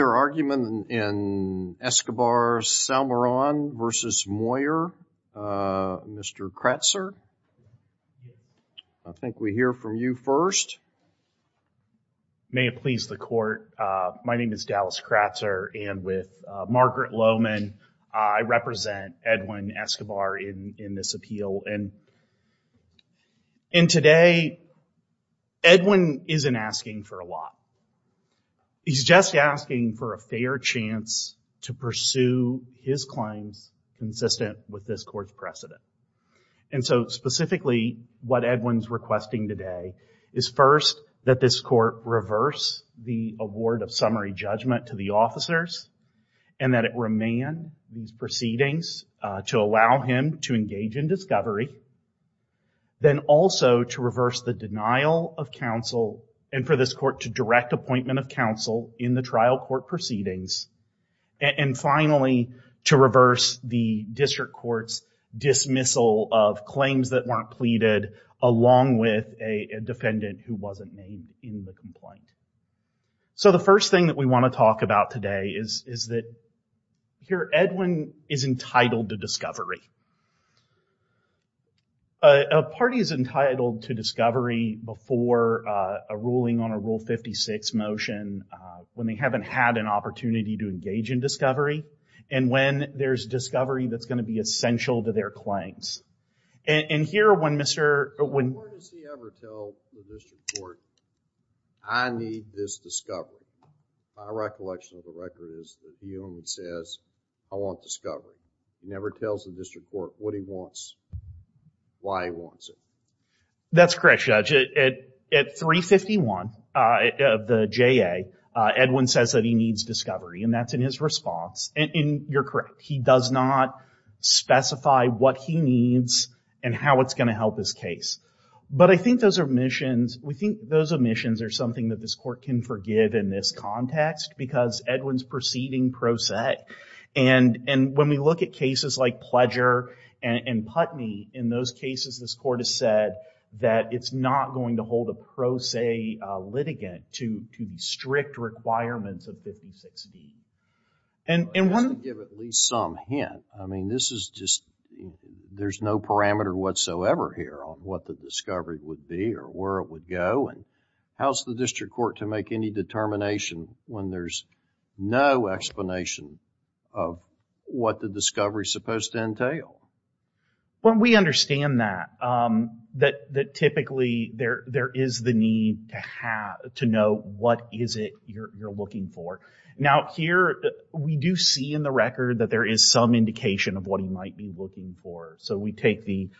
Your argument in Escobar-Salmeron v. Moyer, Mr. Kratzer, I think we hear from you first. May it please the court, my name is Dallas Kratzer and with Margaret Lohman, I represent Edwin Escobar in this appeal and today Edwin isn't asking for a lot. He's just asking for a fair chance to pursue his claims consistent with this court's precedent and so specifically what Edwin's requesting today is first that this court reverse the award of summary judgment to the officers and that it remain these proceedings to allow him to engage in discovery, then also to reverse the denial of counsel and for this court to direct appointment of counsel in the trial court proceedings and finally to reverse the district court's dismissal of claims that weren't pleaded along with a defendant who wasn't named in the complaint. So the first thing that we want to talk about today is that here Edwin is entitled to discovery. A party is entitled to discovery before a ruling on a rule 56 motion when they haven't had an opportunity to engage in discovery and when there's discovery that's going to be essential to their claims. And here when Mr. I need this discovery. My recollection of the record is that Edwin says I want discovery. He never tells the district court what he wants, why he wants it. That's correct Judge. At 351 of the JA Edwin says that he needs discovery and that's in his response and you're correct. He does not specify what he needs and how it's going to help his case. But I think those omissions, we think those omissions are something that this court can forgive in this context because Edwin's proceeding pro se and and when we look at cases like Pledger and Putney in those cases this court has said that it's not going to hold a pro se litigant to the strict requirements of 56D. And I want to give at least some hint. I mean this is just there's no parameter whatsoever here on what the discovery would be or where it would go and how's the district court to make any determination when there's no explanation of what the discovery is supposed to entail? When we understand that that typically there there is the need to have to know what is it you're looking for. Now here we do see in the record that there is some indication of what he might be looking for. So we take the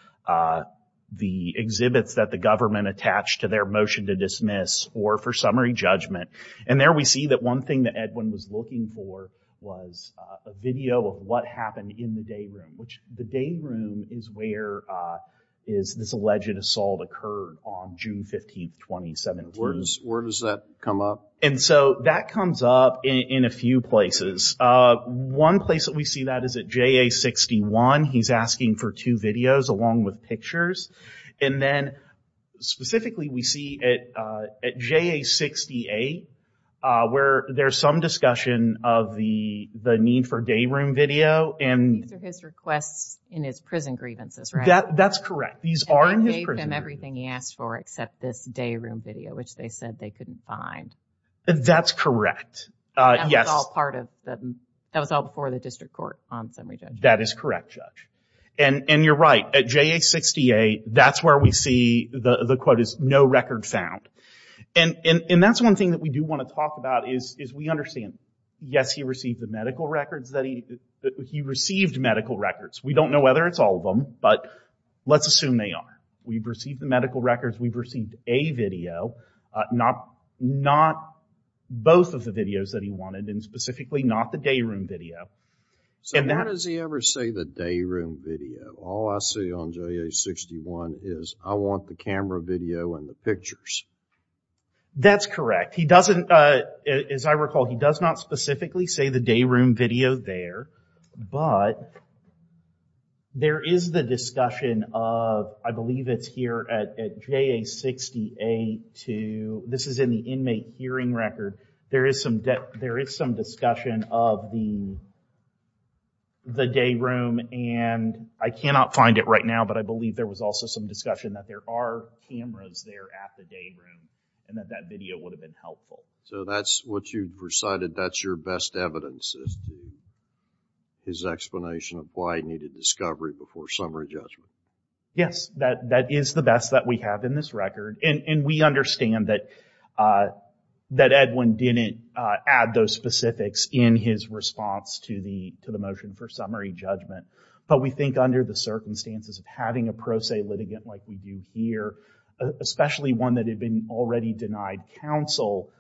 the exhibits that the government attached to their motion to dismiss or for summary judgment. And there we see that one thing that Edwin was looking for was a video of what happened in the day room. Which the day room is where is this alleged assault occurred on June 15th 2017. Where does that come up? And so that comes up in a few places. One place that we see that is at JA 61. He's asking for two videos along with pictures. And then specifically we see it at JA 68 where there's some discussion of the the need for day room video. And his requests in his prison grievances right? That that's correct. These are in his prison grievances. And they gave him everything he asked for except this day room video which they said they couldn't find. That's correct. Yes. That was all part of And you're right. At JA 68 that's where we see the quote is no record found. And that's one thing that we do want to talk about is we understand. Yes he received the medical records. He received medical records. We don't know whether it's all of them. But let's assume they are. We've received the medical records. We've received a video. Not both of the videos that he wanted. And specifically not the day room video. So when does he ever say the day room video? All I see on JA 61 is I want the camera video and the pictures. That's correct. He doesn't as I recall he does not specifically say the day room video there. But there is the discussion of I believe it's here at JA 68 to this is in the inmate hearing record. There is some there is some discussion of the day room and I cannot find it right now. But I believe there was also some discussion that there are cameras there at the day room and that that video would have been helpful. So that's what you've recited. That's your best evidence is his explanation of why he needed discovery before summary judgment. Yes that that is the best that we have in this record. And we understand that that Edwin didn't add those specifics in his response to the to the motion for summary judgment. But we think under the circumstances of having a pro se litigant like we do here. Especially one that had been already denied counsel.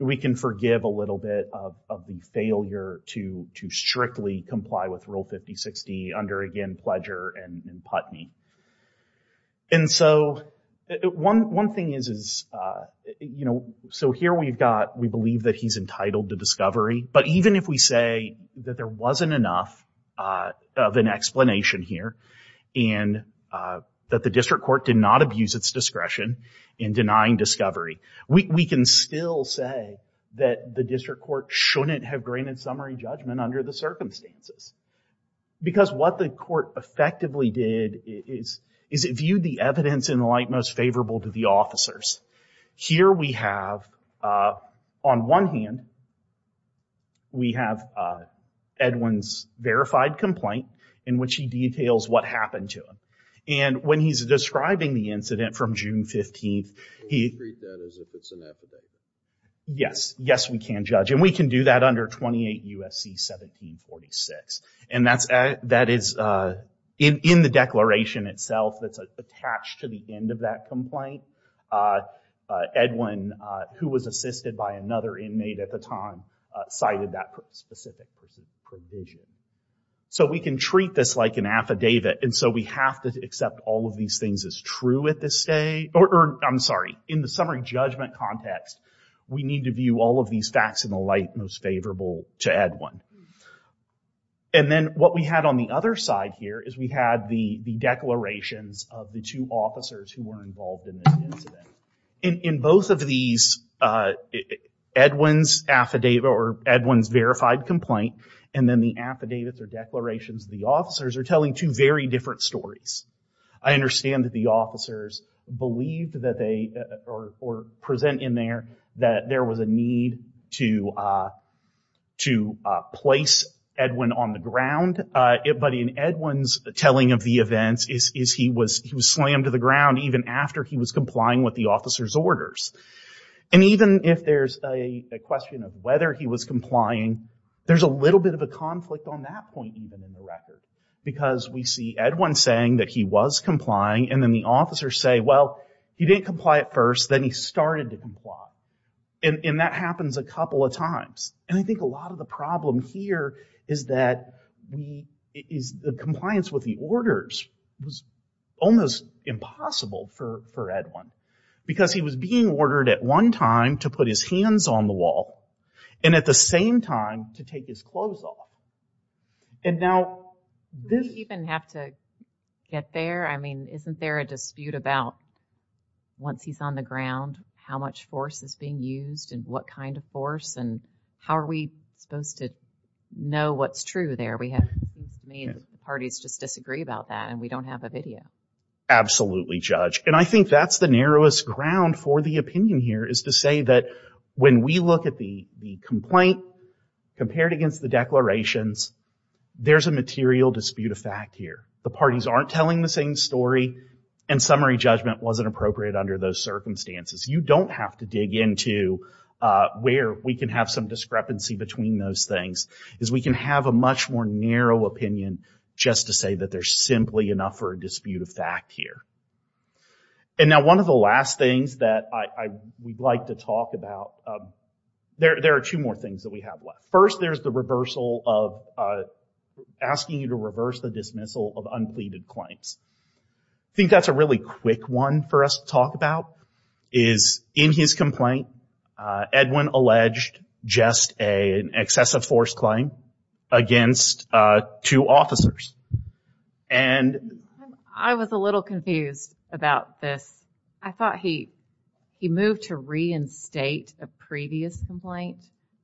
We can forgive a little bit of the strictly comply with Rule 5060 under again Pledger and Putney. And so one one thing is is you know so here we've got we believe that he's entitled to discovery. But even if we say that there wasn't enough of an explanation here. And that the district court did not abuse its discretion in denying discovery. We can still say that the district court shouldn't have granted summary judgment under the circumstances. Because what the court effectively did is is it viewed the evidence in the light most favorable to the officers. Here we have on one hand we have Edwin's verified complaint in which he details what happened to him. And when he's describing the incident from June 15th he. Yes yes we can judge and we can do that under 28 U.S.C. 1746. And that's that is in in the declaration itself that's attached to the end of that complaint. Edwin who was assisted by another inmate at the time cited that specific provision. So we can treat this like an affidavit. And so we have to accept all of these things as true at this day. Or I'm sorry in the summary judgment context we need to view all of these facts in the light most favorable to Edwin. And then what we had on the other side here is we had the the declarations of the two officers who were involved in this incident. In both of these Edwin's affidavit or Edwin's verified complaint and then the affidavits or declarations the officers are telling two very different stories. I understand that the officers believed that they or present in there that there was a need to to place Edwin on the ground. But in Edwin's telling of the events is he was he was slammed to the ground even after he was complying with the officer's orders. And even if there's a question of whether he was complying there's a little bit of a conflict on that point even in the record. Because we see Edwin saying that he was complying and then the officers say well he didn't comply at first then he started to comply. And that happens a couple of times. And I think a lot of the problem here is that we is the compliance with the orders was almost impossible for for Edwin. Because he was being ordered at one time to put his hands on the wall and at the same time to take his clothes off. And now this... Do we even have to get there? I mean isn't there a dispute about once he's on the ground how much force is being used and what kind of force and how are we supposed to know what's true there? We have parties just disagree about that and we don't have a video. Absolutely judge. And I think that's the narrowest ground for the opinion here is to say that when we look at the the complaint compared against the declarations, there's a material dispute of fact here. The parties aren't telling the same story and summary judgment wasn't appropriate under those circumstances. You don't have to dig into where we can have some discrepancy between those things. Is we can have a much more narrow opinion just to say that there's simply enough for a dispute of fact here. And now one of the last things that I we'd like to talk about... There are two more things that we have left. First there's the reversal of... Asking you to reverse the dismissal of unpleaded claims. I think that's a really quick one for us to talk about is in his complaint Edwin alleged just an excessive force claim against two officers and... I was a little confused about this. I thought he moved to reinstate a previous complaint,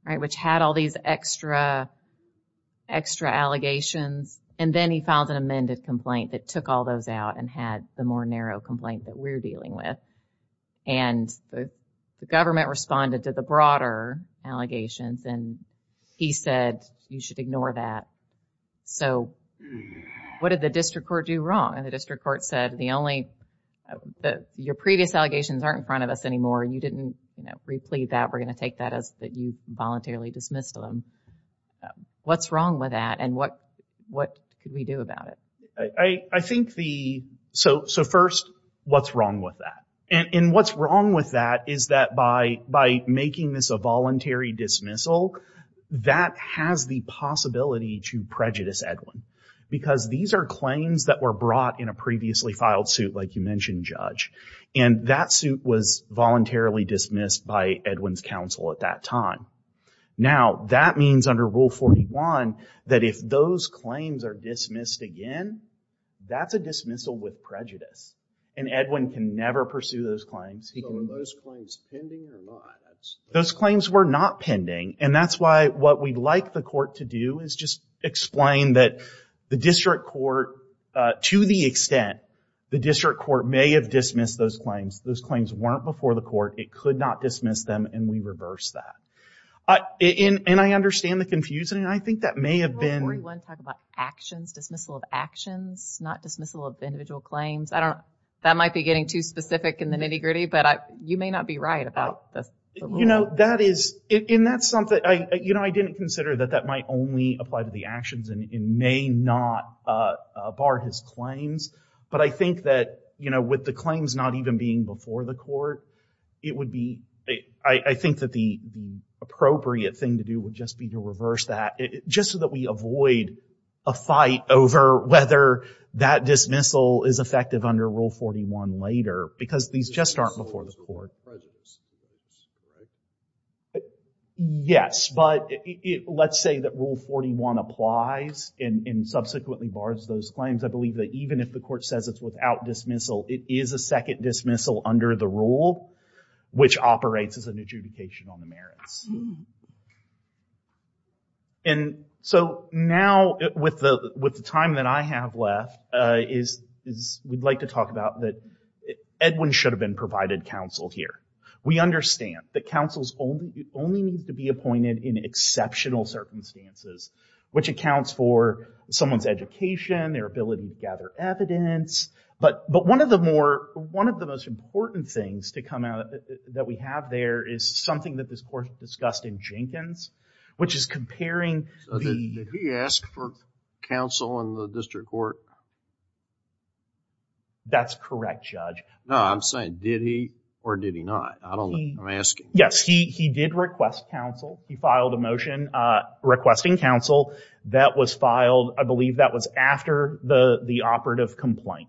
right? Which had all these extra allegations and then he filed an amended complaint that took all those out and had the more narrow complaint that we're dealing with. And the government responded to the broader allegations and he said you should ignore that. So what did the district court do wrong? And the district court said the only... Your previous allegations aren't in front of us anymore. You didn't you know replete that. We're going to take that as that you voluntarily dismissed them. What's wrong with that and what what could we do about it? I think the... So first what's wrong with that? And what's wrong with that is that by making this a voluntary dismissal that has the possibility to prejudice Edwin. Because these are claims that were brought in a previously filed suit like you mentioned Judge. And that suit was voluntarily dismissed by Edwin's counsel at that time. Now that means under rule 41 that if those claims are dismissed again that's a dismissal with prejudice. And Edwin can never pursue those claims. Those claims were not pending and that's why what we'd like the court to do is just explain that the district court to the extent the district court may have dismissed those claims. Those claims weren't before the court. It could not dismiss them and we reverse that. And I understand the confusion and I think that may have been... Rule 41 talk about actions dismissal of actions not dismissal of individual claims. I don't that might be getting too specific in the nitty-gritty but I you may not be right about this. You know that is and that's something I you know I didn't consider that that might only apply to the actions and it may not bar his claims. But I think that you know with the claims not even being before the court it would be I think that the appropriate thing to do would just be to reverse that. Just so that we avoid a fight over whether that dismissal is effective under rule 41 later. Because these just aren't before the court. Yes but let's say that rule 41 applies and subsequently bars those claims. I believe that even if the court says it's without dismissal it is a second dismissal under the rule which operates as an adjudication on the merits. And so now with the with the time that I have left is is we'd like to talk about that Edwin should have been provided counsel here. We understand that counsels only only needs to be appointed in exceptional circumstances. Which accounts for someone's education their ability to gather evidence. But but one of the more one of the most important things to come out that we have there is something that this court discussed in Jenkins. Which is comparing the So did he ask for counsel in the district court? That's correct judge. No I'm saying did he or did he not? I don't know I'm asking. Yes he he did request counsel. He filed a motion requesting counsel. That was filed I believe that was after the the operative complaint.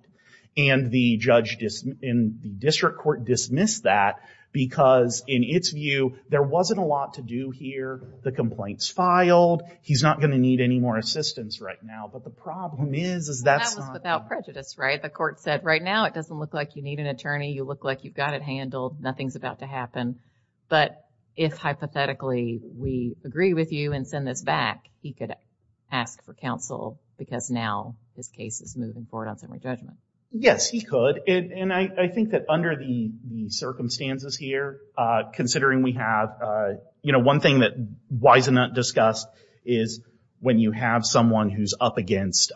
And the judge dismissed in the district court dismissed that because in its view there wasn't a lot to do here. The complaints filed he's not going to need any more assistance right now. But the problem is That was without prejudice right? The court said right now it doesn't look like you need an attorney. You look like you've got it handled. Nothing's about to happen. But if hypothetically we agree with you and send this back he could ask for counsel. Because now this case is moving forward on summary judgment. Yes he could. And I think that under the the circumstances here considering we have you know one thing that Wisenut discussed is when you have someone who's up against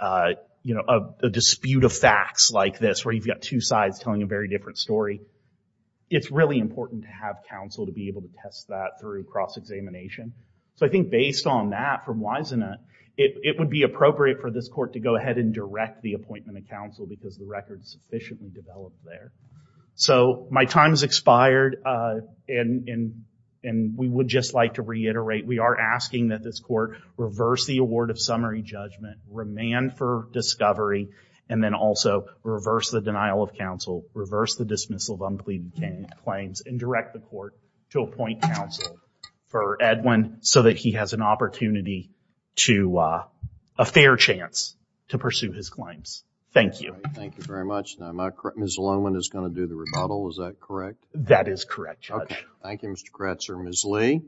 you know a dispute of facts like this where you've got two sides telling a very different story. It's really important to have counsel to be able to test that through cross-examination. So I think based on that from Wisenut it would be appropriate for this court to go ahead and direct the appointment of counsel because the record is sufficiently developed there. So my time has expired and we would just like to reiterate we are asking that this court reverse the award of summary judgment. Remand for discovery and then also reverse the denial of counsel. Reverse the dismissal of unpleaded claims and direct the court to appoint counsel for Edwin so that he has an opportunity to a fair chance to pursue his claims. Thank you. Thank you very much. Now Ms. Loman is going to do the rebuttal. Is that correct? That is correct, Judge. Thank you Mr. Kretzer. Ms. Lee.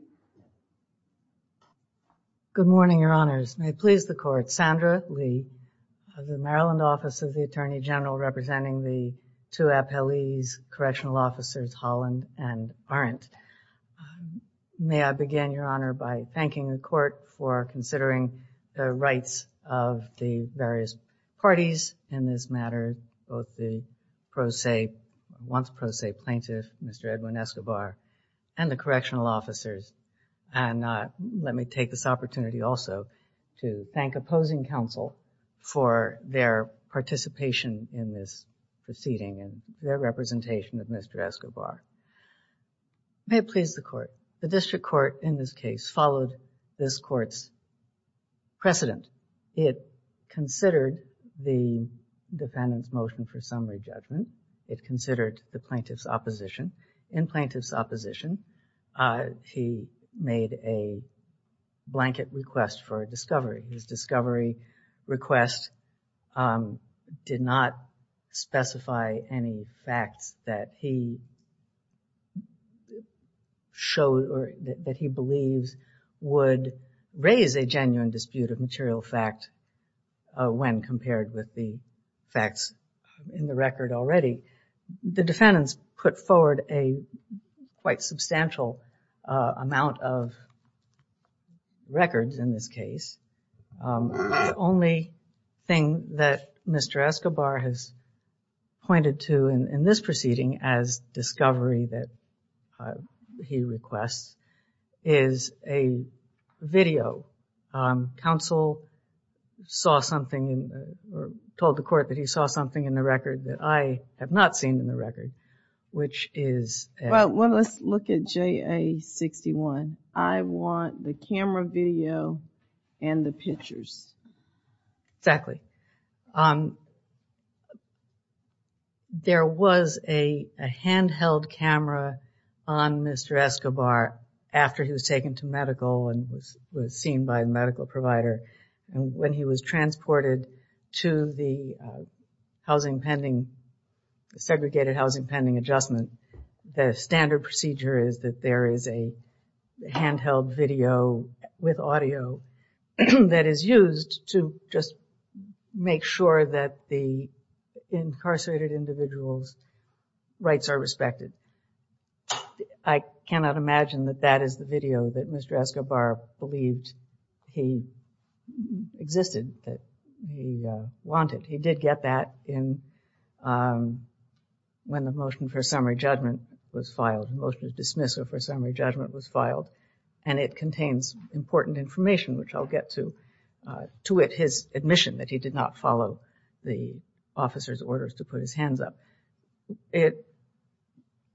Good morning, your honors. May it please the court. Sandra Lee of the Maryland Office of the Attorney General representing the two appellees, correctional officers Holland and Arendt. May I begin, your honor, by thanking the court for considering the rights of the various parties in this matter. Both the pro se, once pro se plaintiff, Mr. Edwin Escobar and the correctional officers. And let me take this opportunity also to thank opposing counsel for their participation in this proceeding and their representation of Mr. Escobar. May it please the court. The district court in this case followed this court's precedent. It considered the defendant's motion for summary judgment. It considered the plaintiff's opposition. In plaintiff's opposition, he made a blanket request for a discovery. His discovery request did not specify any facts that he would show or that he believes would raise a genuine dispute of material fact when compared with the facts in the record already. The defendants put forward a quite substantial amount of records in this case. The only thing that Mr. Escobar has pointed to in this proceeding as discovery that he requests is a video. Counsel saw something or told the court that he saw something in the record that I have not seen in the record, which is... Well, let's look at JA-61. I want the camera video and the pictures. Exactly. There was a handheld camera on Mr. Escobar after he was taken to medical and was seen by a medical provider. And when he was transported to the segregated housing pending adjustment, the standard procedure is that there is a handheld video with audio that is used to just make sure that the incarcerated individual's rights are respected. I cannot imagine that that is the video that Mr. Escobar believed he existed, that he wanted. He did get that in when the motion for summary judgment was filed, the motion to dismiss or for summary judgment was filed. And it contains important information, which I'll get to, to his admission that he did not follow the officer's orders to put his hands up. It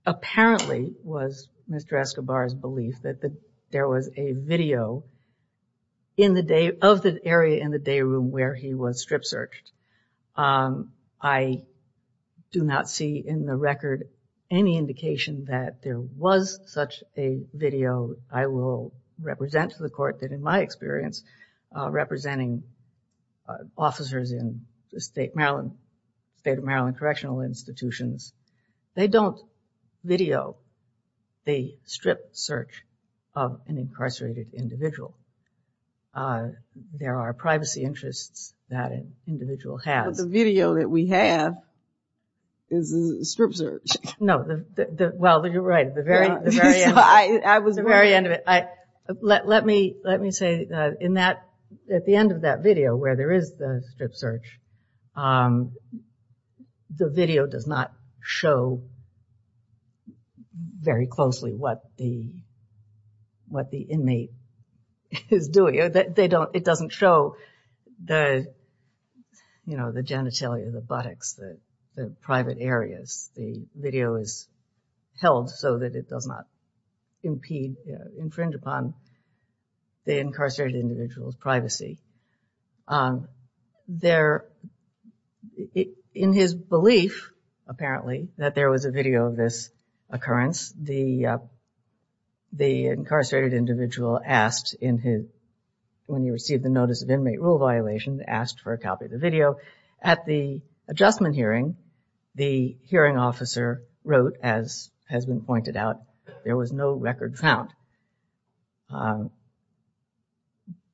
apparently was Mr. Escobar's belief that there was a video of the area in the day room where he was strip searched. I do not see in the record any indication that there was such a video. I will represent to the court that in my experience, representing officers in the state of Maryland correctional institutions, they don't video the strip search of an incarcerated individual. There are privacy interests that an individual has. But the video that we have is a strip search. No, well, you're right. At the very end of it, let me say that in that, at the end of that video where there is the strip search, the video does not show very closely what the, what the inmate is doing. They don't, it doesn't show the, you know, the genitalia, the buttocks, the private areas. The video is held so that it does not impede, infringe upon the incarcerated individual's privacy. There, in his belief, apparently, that there was a video of this occurrence, the, the incarcerated individual asked in his, when he received the notice of inmate rule violation, asked for a copy of the video. At the adjustment hearing, the hearing officer wrote, as has been said,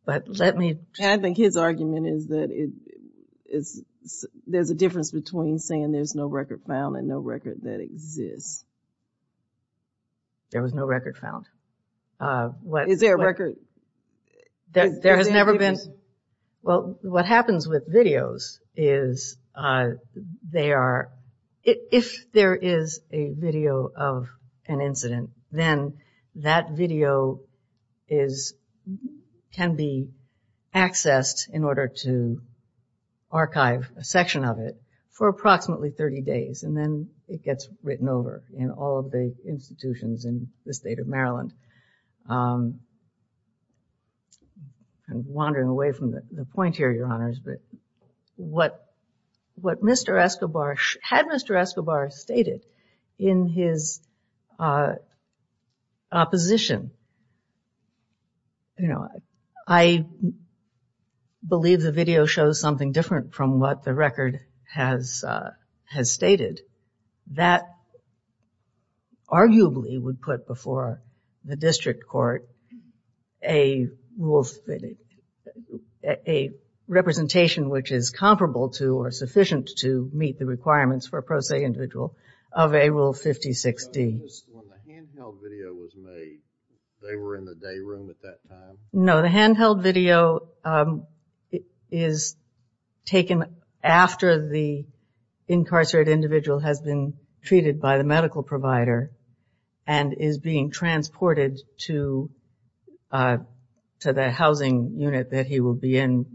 but let me. And I think his argument is that it is, there's a difference between saying there's no record found and no record that exists. There was no record found. Is there a record? There has never been. Well, what happens with videos is they are, if there is a video of an incident, then that video is, can be accessed in order to archive a section of it for approximately 30 days and then it gets written over in all of the institutions in the state of Maryland. I'm wandering away from the point here, your honors, but what, what Mr. Escobar, had Mr. Escobar stated in his opposition, you know, I believe the video shows something different from what the record has, has stated. That arguably would put before the district court a rule, a representation which is comparable to or sufficient to meet the requirements for a pro se individual of a rule 56D. When the handheld video was made, they were in the day room at that time? No, the handheld video is taken after the incarcerated individual has been treated by the unit that he will be in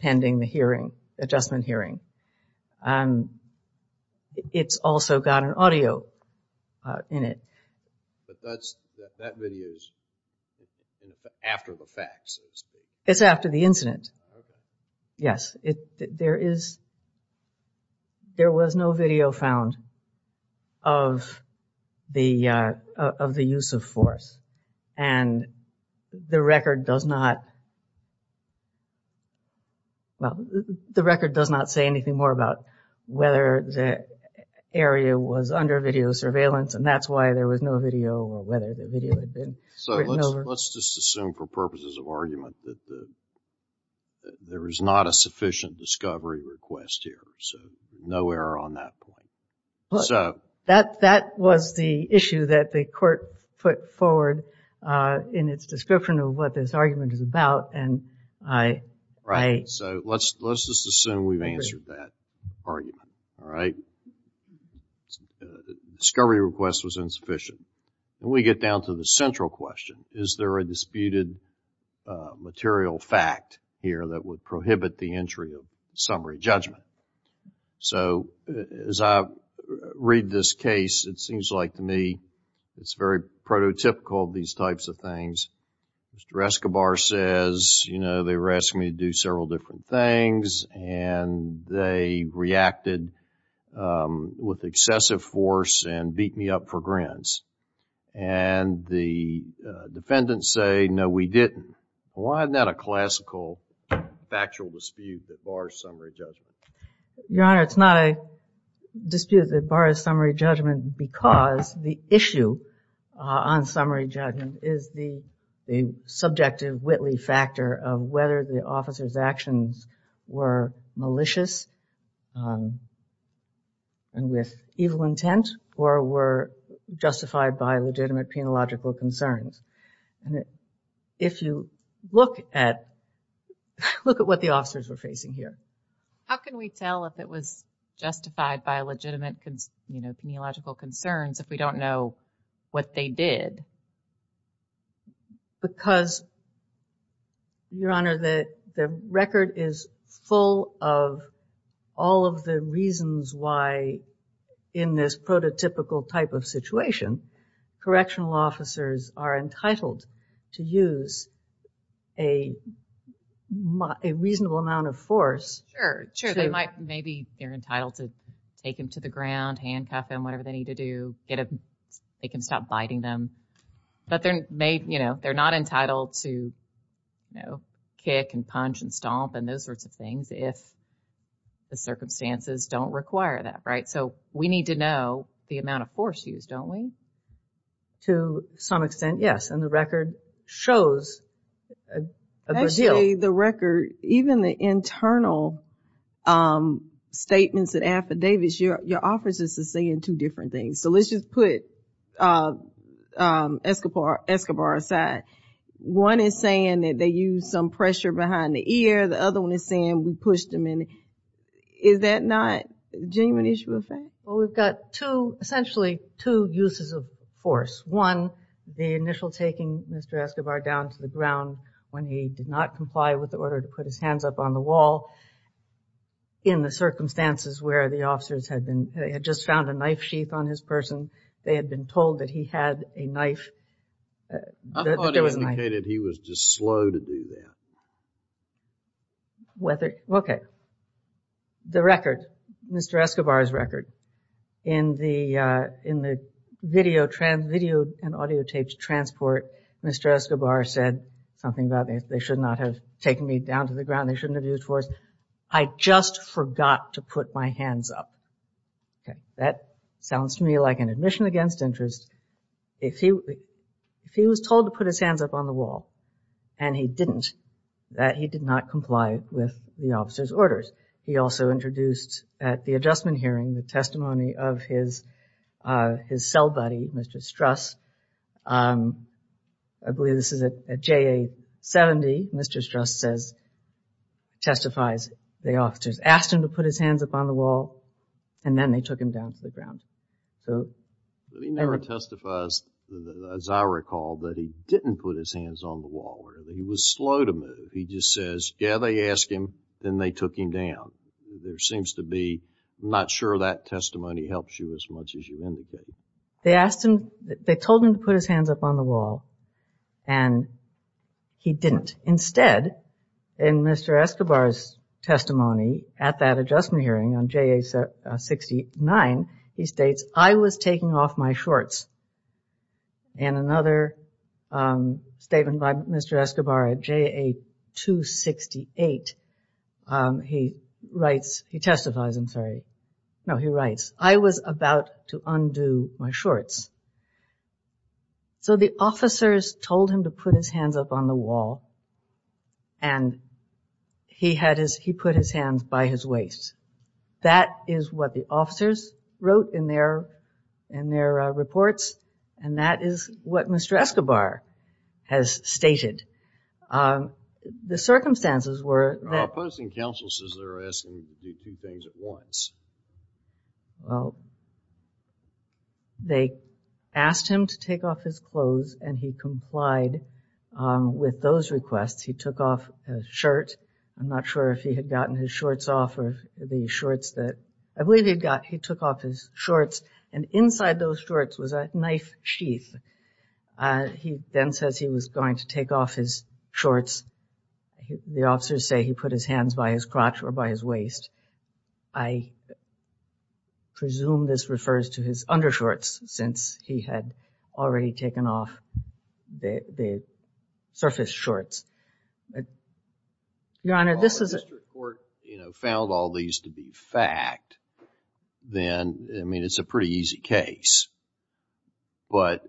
pending the hearing, adjustment hearing. It's also got an audio in it. But that's, that video is after the facts? It's after the incident. Yes, it, there is, there was no video found of the, of the use of force and the record does not, well, the record does not say anything more about whether the area was under video surveillance and that's why there was no video or whether the video had been written over. So let's just assume for purposes of argument that the, that there is not a sufficient discovery request here. So no error on that point. So that, that was the issue that the court put forward, uh, in its description of what this argument is about. And I, I, so let's, let's just assume we've answered that argument. All right. Discovery request was insufficient and we get down to the central question. Is there a disputed, uh, material fact here that would prohibit the entry of summary judgment? So as I read this case, it seems like to me it's very prototypical, these types of things. Mr. Escobar says, you know, they were asking me to do several different things and they reacted, um, with excessive force and beat me up for grins. And the, uh, defendants say, no, we didn't. Why isn't that a classical factual dispute that bars summary judgment? Your Honor, it's not a dispute that bars summary judgment because the issue, uh, on summary judgment is the, the subjective Whitley factor of whether the officer's actions were malicious, um, and with evil intent or were justified by legitimate penological concerns. And if you look at, look at what the officers were facing here. How can we tell if it was justified by legitimate, you know, penological concerns if we don't know what they did? Because Your Honor, the record is full of all of the reasons why in this prototypical type of situation, correctional officers are entitled to use a reasonable amount of force. Sure. Sure. Maybe they're entitled to take him to the ground, handcuff him, whatever they need to do, get him, make him stop biting them. But they're made, you know, they're not entitled to, you know, kick and punch and stomp and those sorts of things if the circumstances don't require that. Right. So we need to know the amount of force used, don't we? To some extent, yes. And the record shows a good deal. Actually, the record, even the internal, um, statements and affidavits, your, your officers are saying two different things. So let's just put, uh, um, Escobar, Escobar aside. One is saying that they used some pressure behind the ear. The other one is saying we pushed him in. Is that not a genuine issue of fact? Well, we've got two, essentially two uses of force. One, the initial taking Mr. Escobar down to the ground when he did not comply with the order to put his hands up on the wall. In the circumstances where the officers had been, had just found a knife sheath on his person, they had been told that he had a knife. I thought he indicated he was just slow to do that. Whether, okay. The record, Mr. Escobar's record, in the, uh, in the video trans, video and audio tapes transport, Mr. Escobar said something about they should not have taken me down to the ground, they shouldn't have used force. I just forgot to put my hands up. Okay. That sounds to me like an admission against interest. If he, if he was told to put his hands up on the wall and he didn't, that he did not comply with the officer's orders. He also introduced at the adjustment hearing, the testimony of his, uh, his cell buddy, Mr. Struss. Um, I believe this is at, at JA 70, Mr. Struss says, testifies, the officers asked him to put his hands up on the wall and then they took him down to the ground. So. But he never testifies, as I recall, that he didn't put his hands on the wall. He was slow to move. He just says, yeah, they asked him, then they took him down. There seems to be, I'm not sure that testimony helps you as much as you indicate. They asked him, they told him to put his hands up on the wall and he didn't. Instead, in Mr. Escobar's testimony at that adjustment hearing on JA 69, he states, I was taking off my shorts. And another, um, statement by Mr. Escobar at JA 268, um, he writes, he testifies, I'm sorry. No, he writes, I was about to undo my shorts. So the officers told him to put his hands up on the wall and he had his, he put his hands by his That is what the officers wrote in their, in their reports. And that is what Mr. Escobar has stated. Um, the circumstances were that. Opposing counsel says they're asking him to do two things at once. Well, they asked him to take off his clothes and he complied, um, those requests. He took off his shirt. I'm not sure if he had gotten his shorts off or the shorts that, I believe he had got, he took off his shorts and inside those shorts was a knife sheath. Uh, he then says he was going to take off his shorts. The officers say he put his hands by his crotch or by his waist. I presume this refers to his undershorts since he had already taken off the, the surface shorts. Your Honor, this is. If the district court, you know, found all these to be fact, then, I mean, it's a pretty easy case. But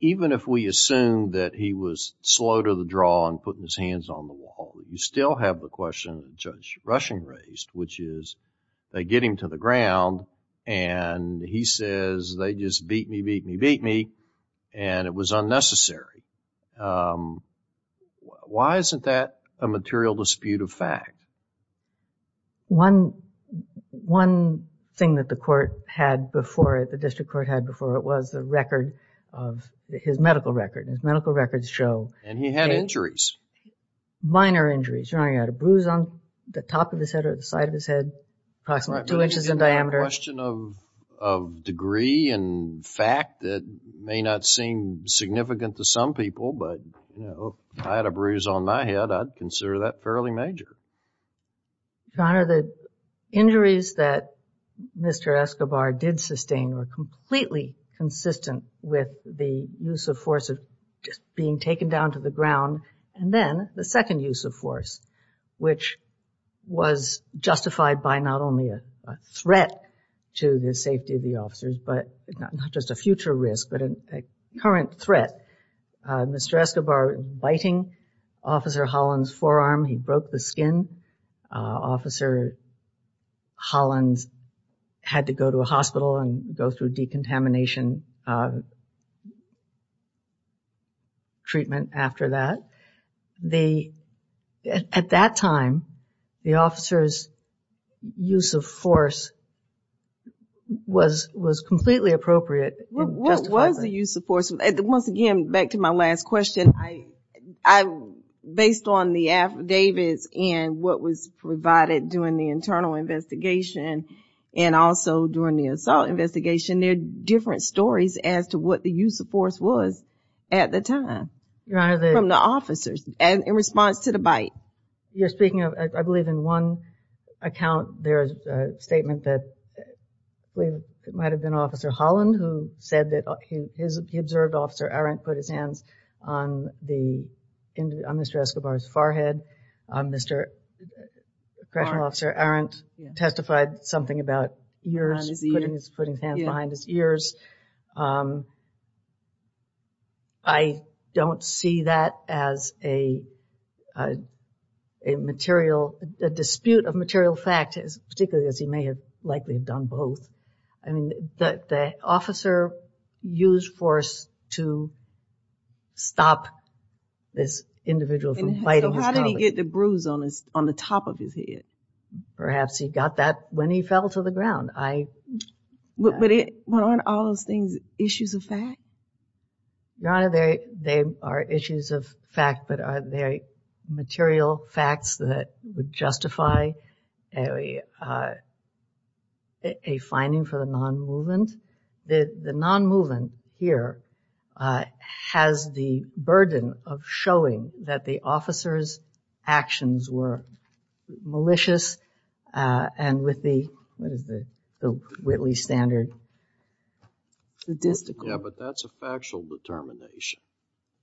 even if we assume that he was slow to the draw and putting his hands on the wall, you still have the question Judge Rushing raised, which is they get him to the ground and he says they just beat me, beat me, beat me and it was unnecessary. Why isn't that a material dispute of fact? One, one thing that the court had before it, the district court had before it was the record of his medical record. His medical records show. And he had injuries. Minor injuries. Your Honor, he had a bruise on the top of his head or the question of, of degree and fact that may not seem significant to some people, but, you know, I had a bruise on my head. I'd consider that fairly major. Your Honor, the injuries that Mr. Escobar did sustain were completely consistent with the use of force of just being taken down to the ground. And then the second use of force, which was justified by not only a threat to the safety of the officers, but not just a future risk, but a current threat. Mr. Escobar biting Officer Holland's forearm. He broke the skin. Officer Holland had to go to a hospital and go through decontamination treatment after that. The, at that time, the officer's use of force was, was completely appropriate. What was the use of force? Once again, back to my last question, I, I, based on the affidavits and what was provided during the internal investigation and also during the assault investigation, there are different stories as to what the use of force was at the time from the officers and in response to the bite. Your Honor, you're speaking of, I believe in one account, there's a statement that we might've been Officer Holland who said that he, he observed Officer Arendt put his hands on the, on Mr. Escobar's forehead. Mr. Correctional Officer Arendt testified something about putting his hands behind his ears. I don't see that as a, a, a material, a dispute of material fact, particularly as he may have likely have done both. I mean, the, the officer used force to stop this individual from biting his collar. How did he get the bruise on his, on the top of his head? Perhaps he got that when he fell to the ground. I, but, but aren't all those things issues of fact? Your Honor, they, they are issues of fact, but are they material facts that would justify a, a finding for the non-movement? The, the non-movement here has the burden of showing that the officer's actions were malicious, and with the, what is the, the Whitley Standard statistical? Yeah, but that's a factual determination.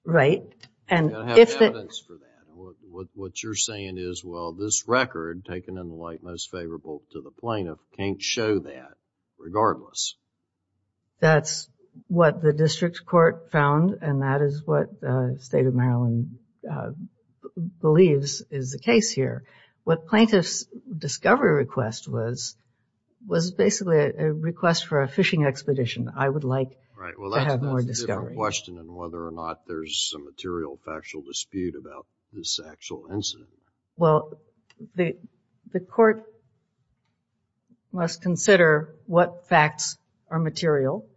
Right, and if it... You gotta have evidence for that. What, what you're saying is, well, this record taken in the light most favorable to the plaintiff can't show that regardless. That's what the district court found, and that is what the state of Maryland believes is the case here. What plaintiff's discovery request was, was basically a request for a fishing expedition. I would like to have more discovery. Right, well, that's a different question than whether or not there's a material, factual dispute about this actual incident. Well, the, the court must consider what facts are material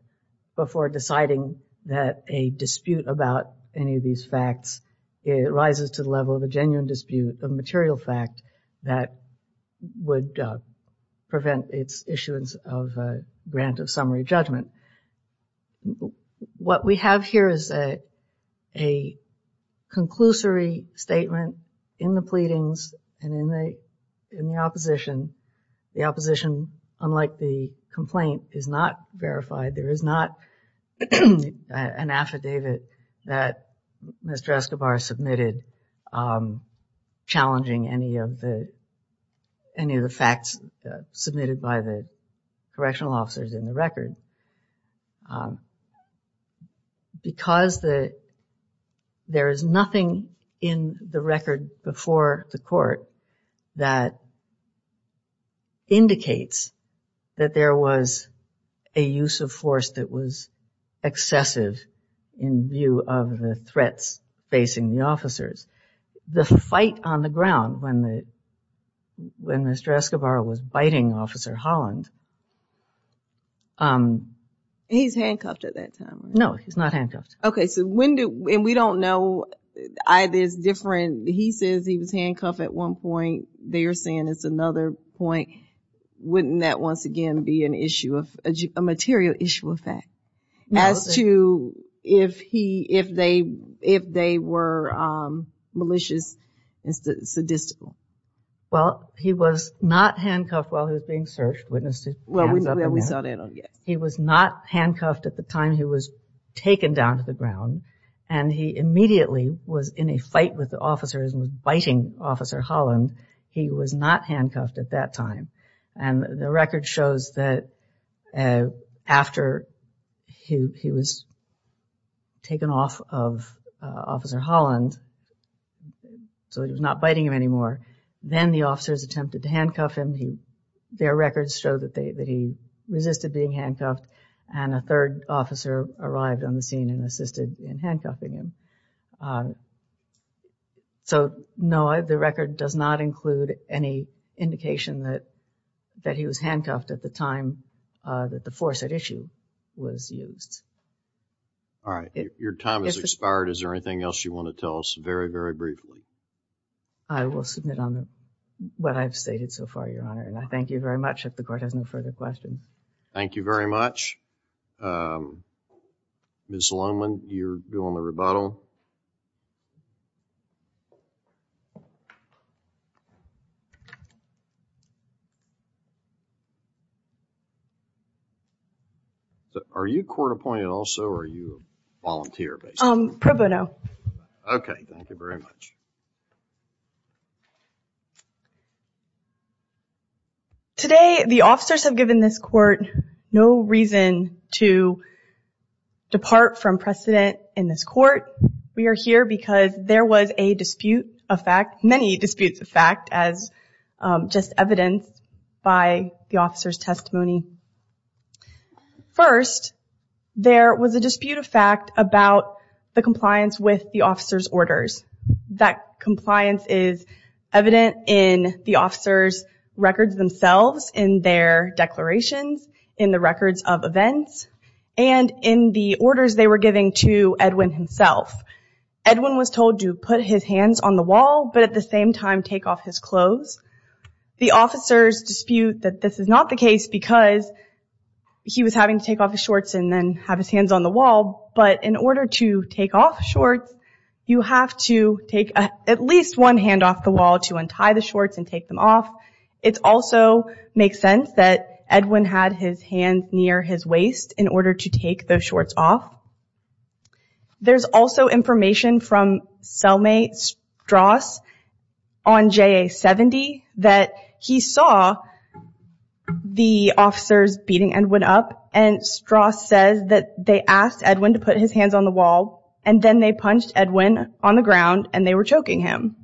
before deciding that a dispute about any of these facts rises to the level of a genuine dispute, a material fact that would prevent its issuance of a grant of summary judgment. What we have here is a, a conclusory statement in the pleadings and in the, in the opposition. The opposition, unlike the complaint, is not verified. There is not an affidavit that Mr. Escobar submitted challenging any of the, any of the facts submitted by the correctional officers in the record. Because the, there is nothing in the record before the court that indicates that there was a use of force that was excessive in view of the threats facing the officers. The fight on the ground when the, when Mr. Escobar was biting Officer Holland. He's handcuffed at that time. No, he's not handcuffed. Okay, so when do, and we don't know, I, there's different, he says he was handcuffed at one point. They're saying it's another point. Wouldn't that once again be an issue of, a material issue of fact as to if he, if they, if they were malicious and sadistic? Well, he was not handcuffed while he was being searched. Well, he was not handcuffed at the time he was taken down to the ground and he immediately was in a fight with the officers and was biting Officer Holland. He was not handcuffed at that time and the record shows that after he was taken off of Officer Holland, so he was not biting him anymore, then the officers attempted to handcuff him. Their records show that they, that he resisted being handcuffed and a third officer arrived on the scene and assisted in handcuffing him. So no, the record does not include any indication that, that he was handcuffed at the time that the force at issue was used. All right, your time has expired. Is there anything else you want to tell us very, very briefly? I will submit on what I've stated so far, your honor, and I thank you very much. If the court has no further questions. Thank you very much. Ms. Lohmann, you're doing the rebuttal. Are you court appointed also, or are you a volunteer? Pro bono. Okay, thank you very much. Today, the officers have given this court no reason to depart from precedent in this court. We are here because there was a dispute of fact, many disputes of fact, as just evidenced by the officer's testimony. First, there was a dispute of fact about the compliance with the officer's orders. That compliance is evident in the officer's records themselves, in their declarations, in the records of events, and in the orders they were giving to Edwin himself. Edwin was told to put his hands on the wall, but at the same time take off his clothes. The officers dispute that this is not the case because he was having to take off his shorts and then have his hands on the wall. But in order to take off shorts, you have to take at least one hand off the wall to untie the shorts and take them off. It also makes sense that Edwin had his hands near his waist in order to take those shorts off. There's also information from cellmate Strauss on JA-70 that he saw the officers beating Edwin up, and Strauss says that they asked Edwin to put his hands on the wall, and then they punched Edwin on the ground, and they were choking him.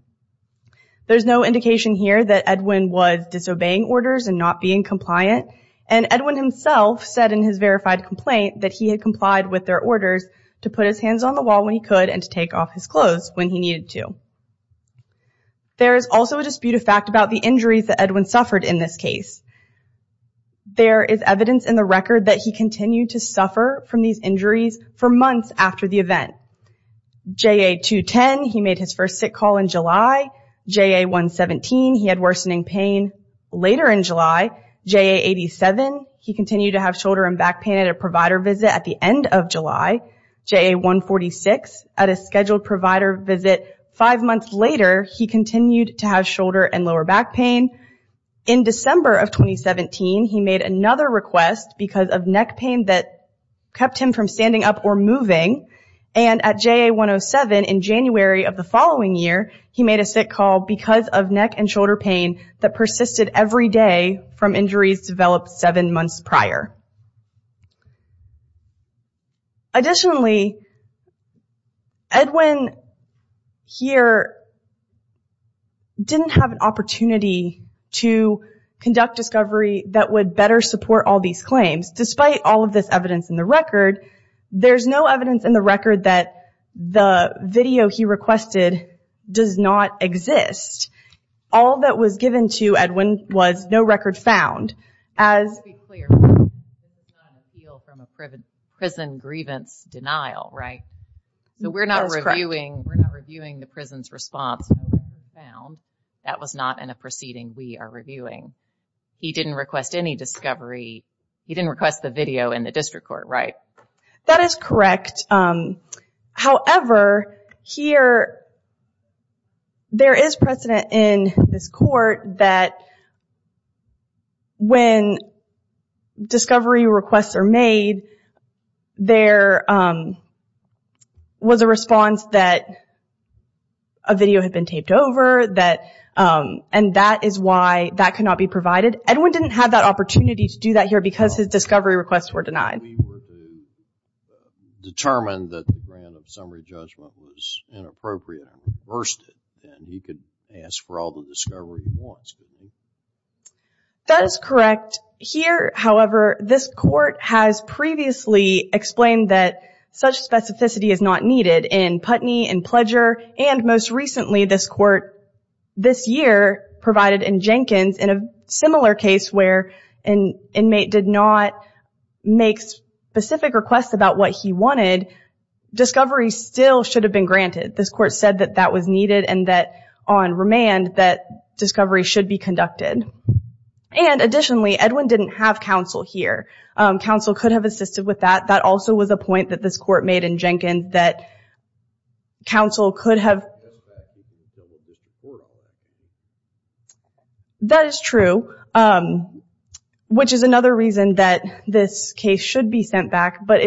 There's no indication here that Edwin was disobeying orders and not being compliant, and Edwin himself said in his verified complaint that he had complied with their orders to put his hands on the wall when he could and to take off his clothes when he needed to. There is also a dispute of fact about the injuries that Edwin suffered in this case. There is evidence in the record that he continued to suffer from these injuries for months after the event. JA-210, he made his first sick call in July. JA-117, he had worsening pain later in July. JA-87, he continued to have shoulder and back pain at a provider visit at the end of July. JA-146, at a scheduled provider visit five months later, he continued to have shoulder and lower back pain. In December of 2017, he made another request because of neck pain that kept him from standing up or moving, and at JA-107 in January of the following year, he made a sick call because of neck and shoulder pain that persisted every day from injuries developed seven months prior. Additionally, Edwin here didn't have an opportunity to conduct discovery that would better support all these claims. Despite all of this evidence in the record, there's no evidence in the record that the video he requested does not exist. All that was given to Edwin was no record found as... To be clear, this is not an appeal from a prison grievance denial, right? So we're not reviewing the prison's response. That was not in a proceeding we are reviewing. He didn't request any discovery. He didn't request the video in the district court, right? That is correct. However, here there is precedent in this court that when discovery requests are made, there was a response that a video had been taped over, and that is why that cannot be provided. Edwin didn't have that opportunity to do that here because his discovery requests were denied. We were determined that the grant of summary judgment was inappropriate and reversed it, and he could ask for all the discovery he wants, couldn't he? That is correct. Here, however, this court has previously explained that such specificity is not needed. In Putney, in Pledger, and most recently this court this year provided in Jenkins in a similar case where an inmate did not make specific requests about what he wanted, discovery still should have been granted. This court said that that was needed and that on remand that discovery should be conducted. Additionally, Edwin didn't have counsel here. Counsel could have assisted with that. That also was a point that this court made in Jenkins that counsel could have... That is true, which is another reason that this case should be sent back, but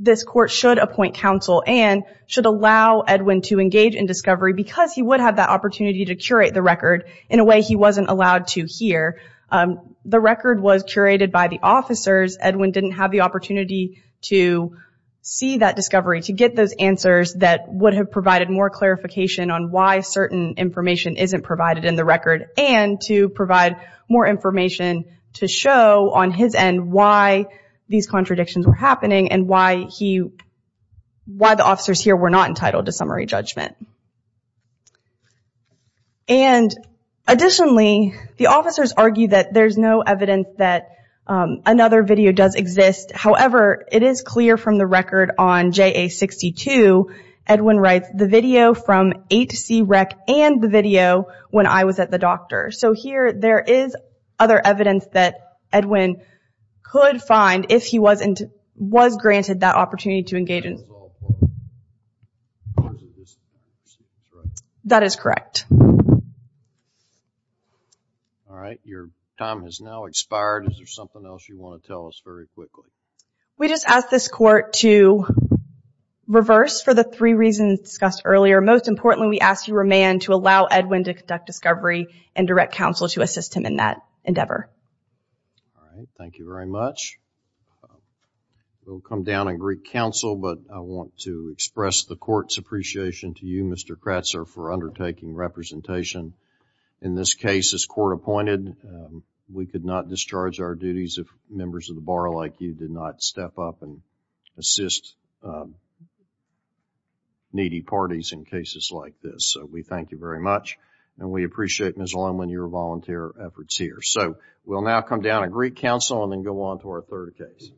this court should appoint counsel and should allow Edwin to engage in discovery because he would have that opportunity to curate the record in a way he wasn't allowed to here. The record was curated by the officers. Edwin didn't have the opportunity to see that discovery, to get those answers that would have provided more clarification on why certain information isn't provided in the record and to provide more information to show on his end why these contradictions were happening and why the officers here were not entitled to summary judgment. Additionally, the officers argue that there's no evidence that another video does exist. However, it is clear from the record on JA62, Edwin writes, the video from 8C rec and the video when I was at the doctor. Here, there is other evidence that Edwin could find if he was granted that opportunity to engage in... That is correct. All right. Your time has now expired. Is there something else you want to tell us very quickly? We just ask this court to reverse for the three reasons discussed earlier. Most importantly, we ask you, Romain, to allow Edwin to conduct discovery and direct counsel to assist him in endeavor. All right. Thank you very much. We'll come down and greet counsel, but I want to express the court's appreciation to you, Mr. Kratzer, for undertaking representation. In this case, as court appointed, we could not discharge our duties if members of the bar like you did not step up and assist needy parties in cases like this. So, we thank you very much, and we appreciate, Ms. Lohmann, your volunteer efforts here. So, we'll now come down and greet counsel and then go on to our third case.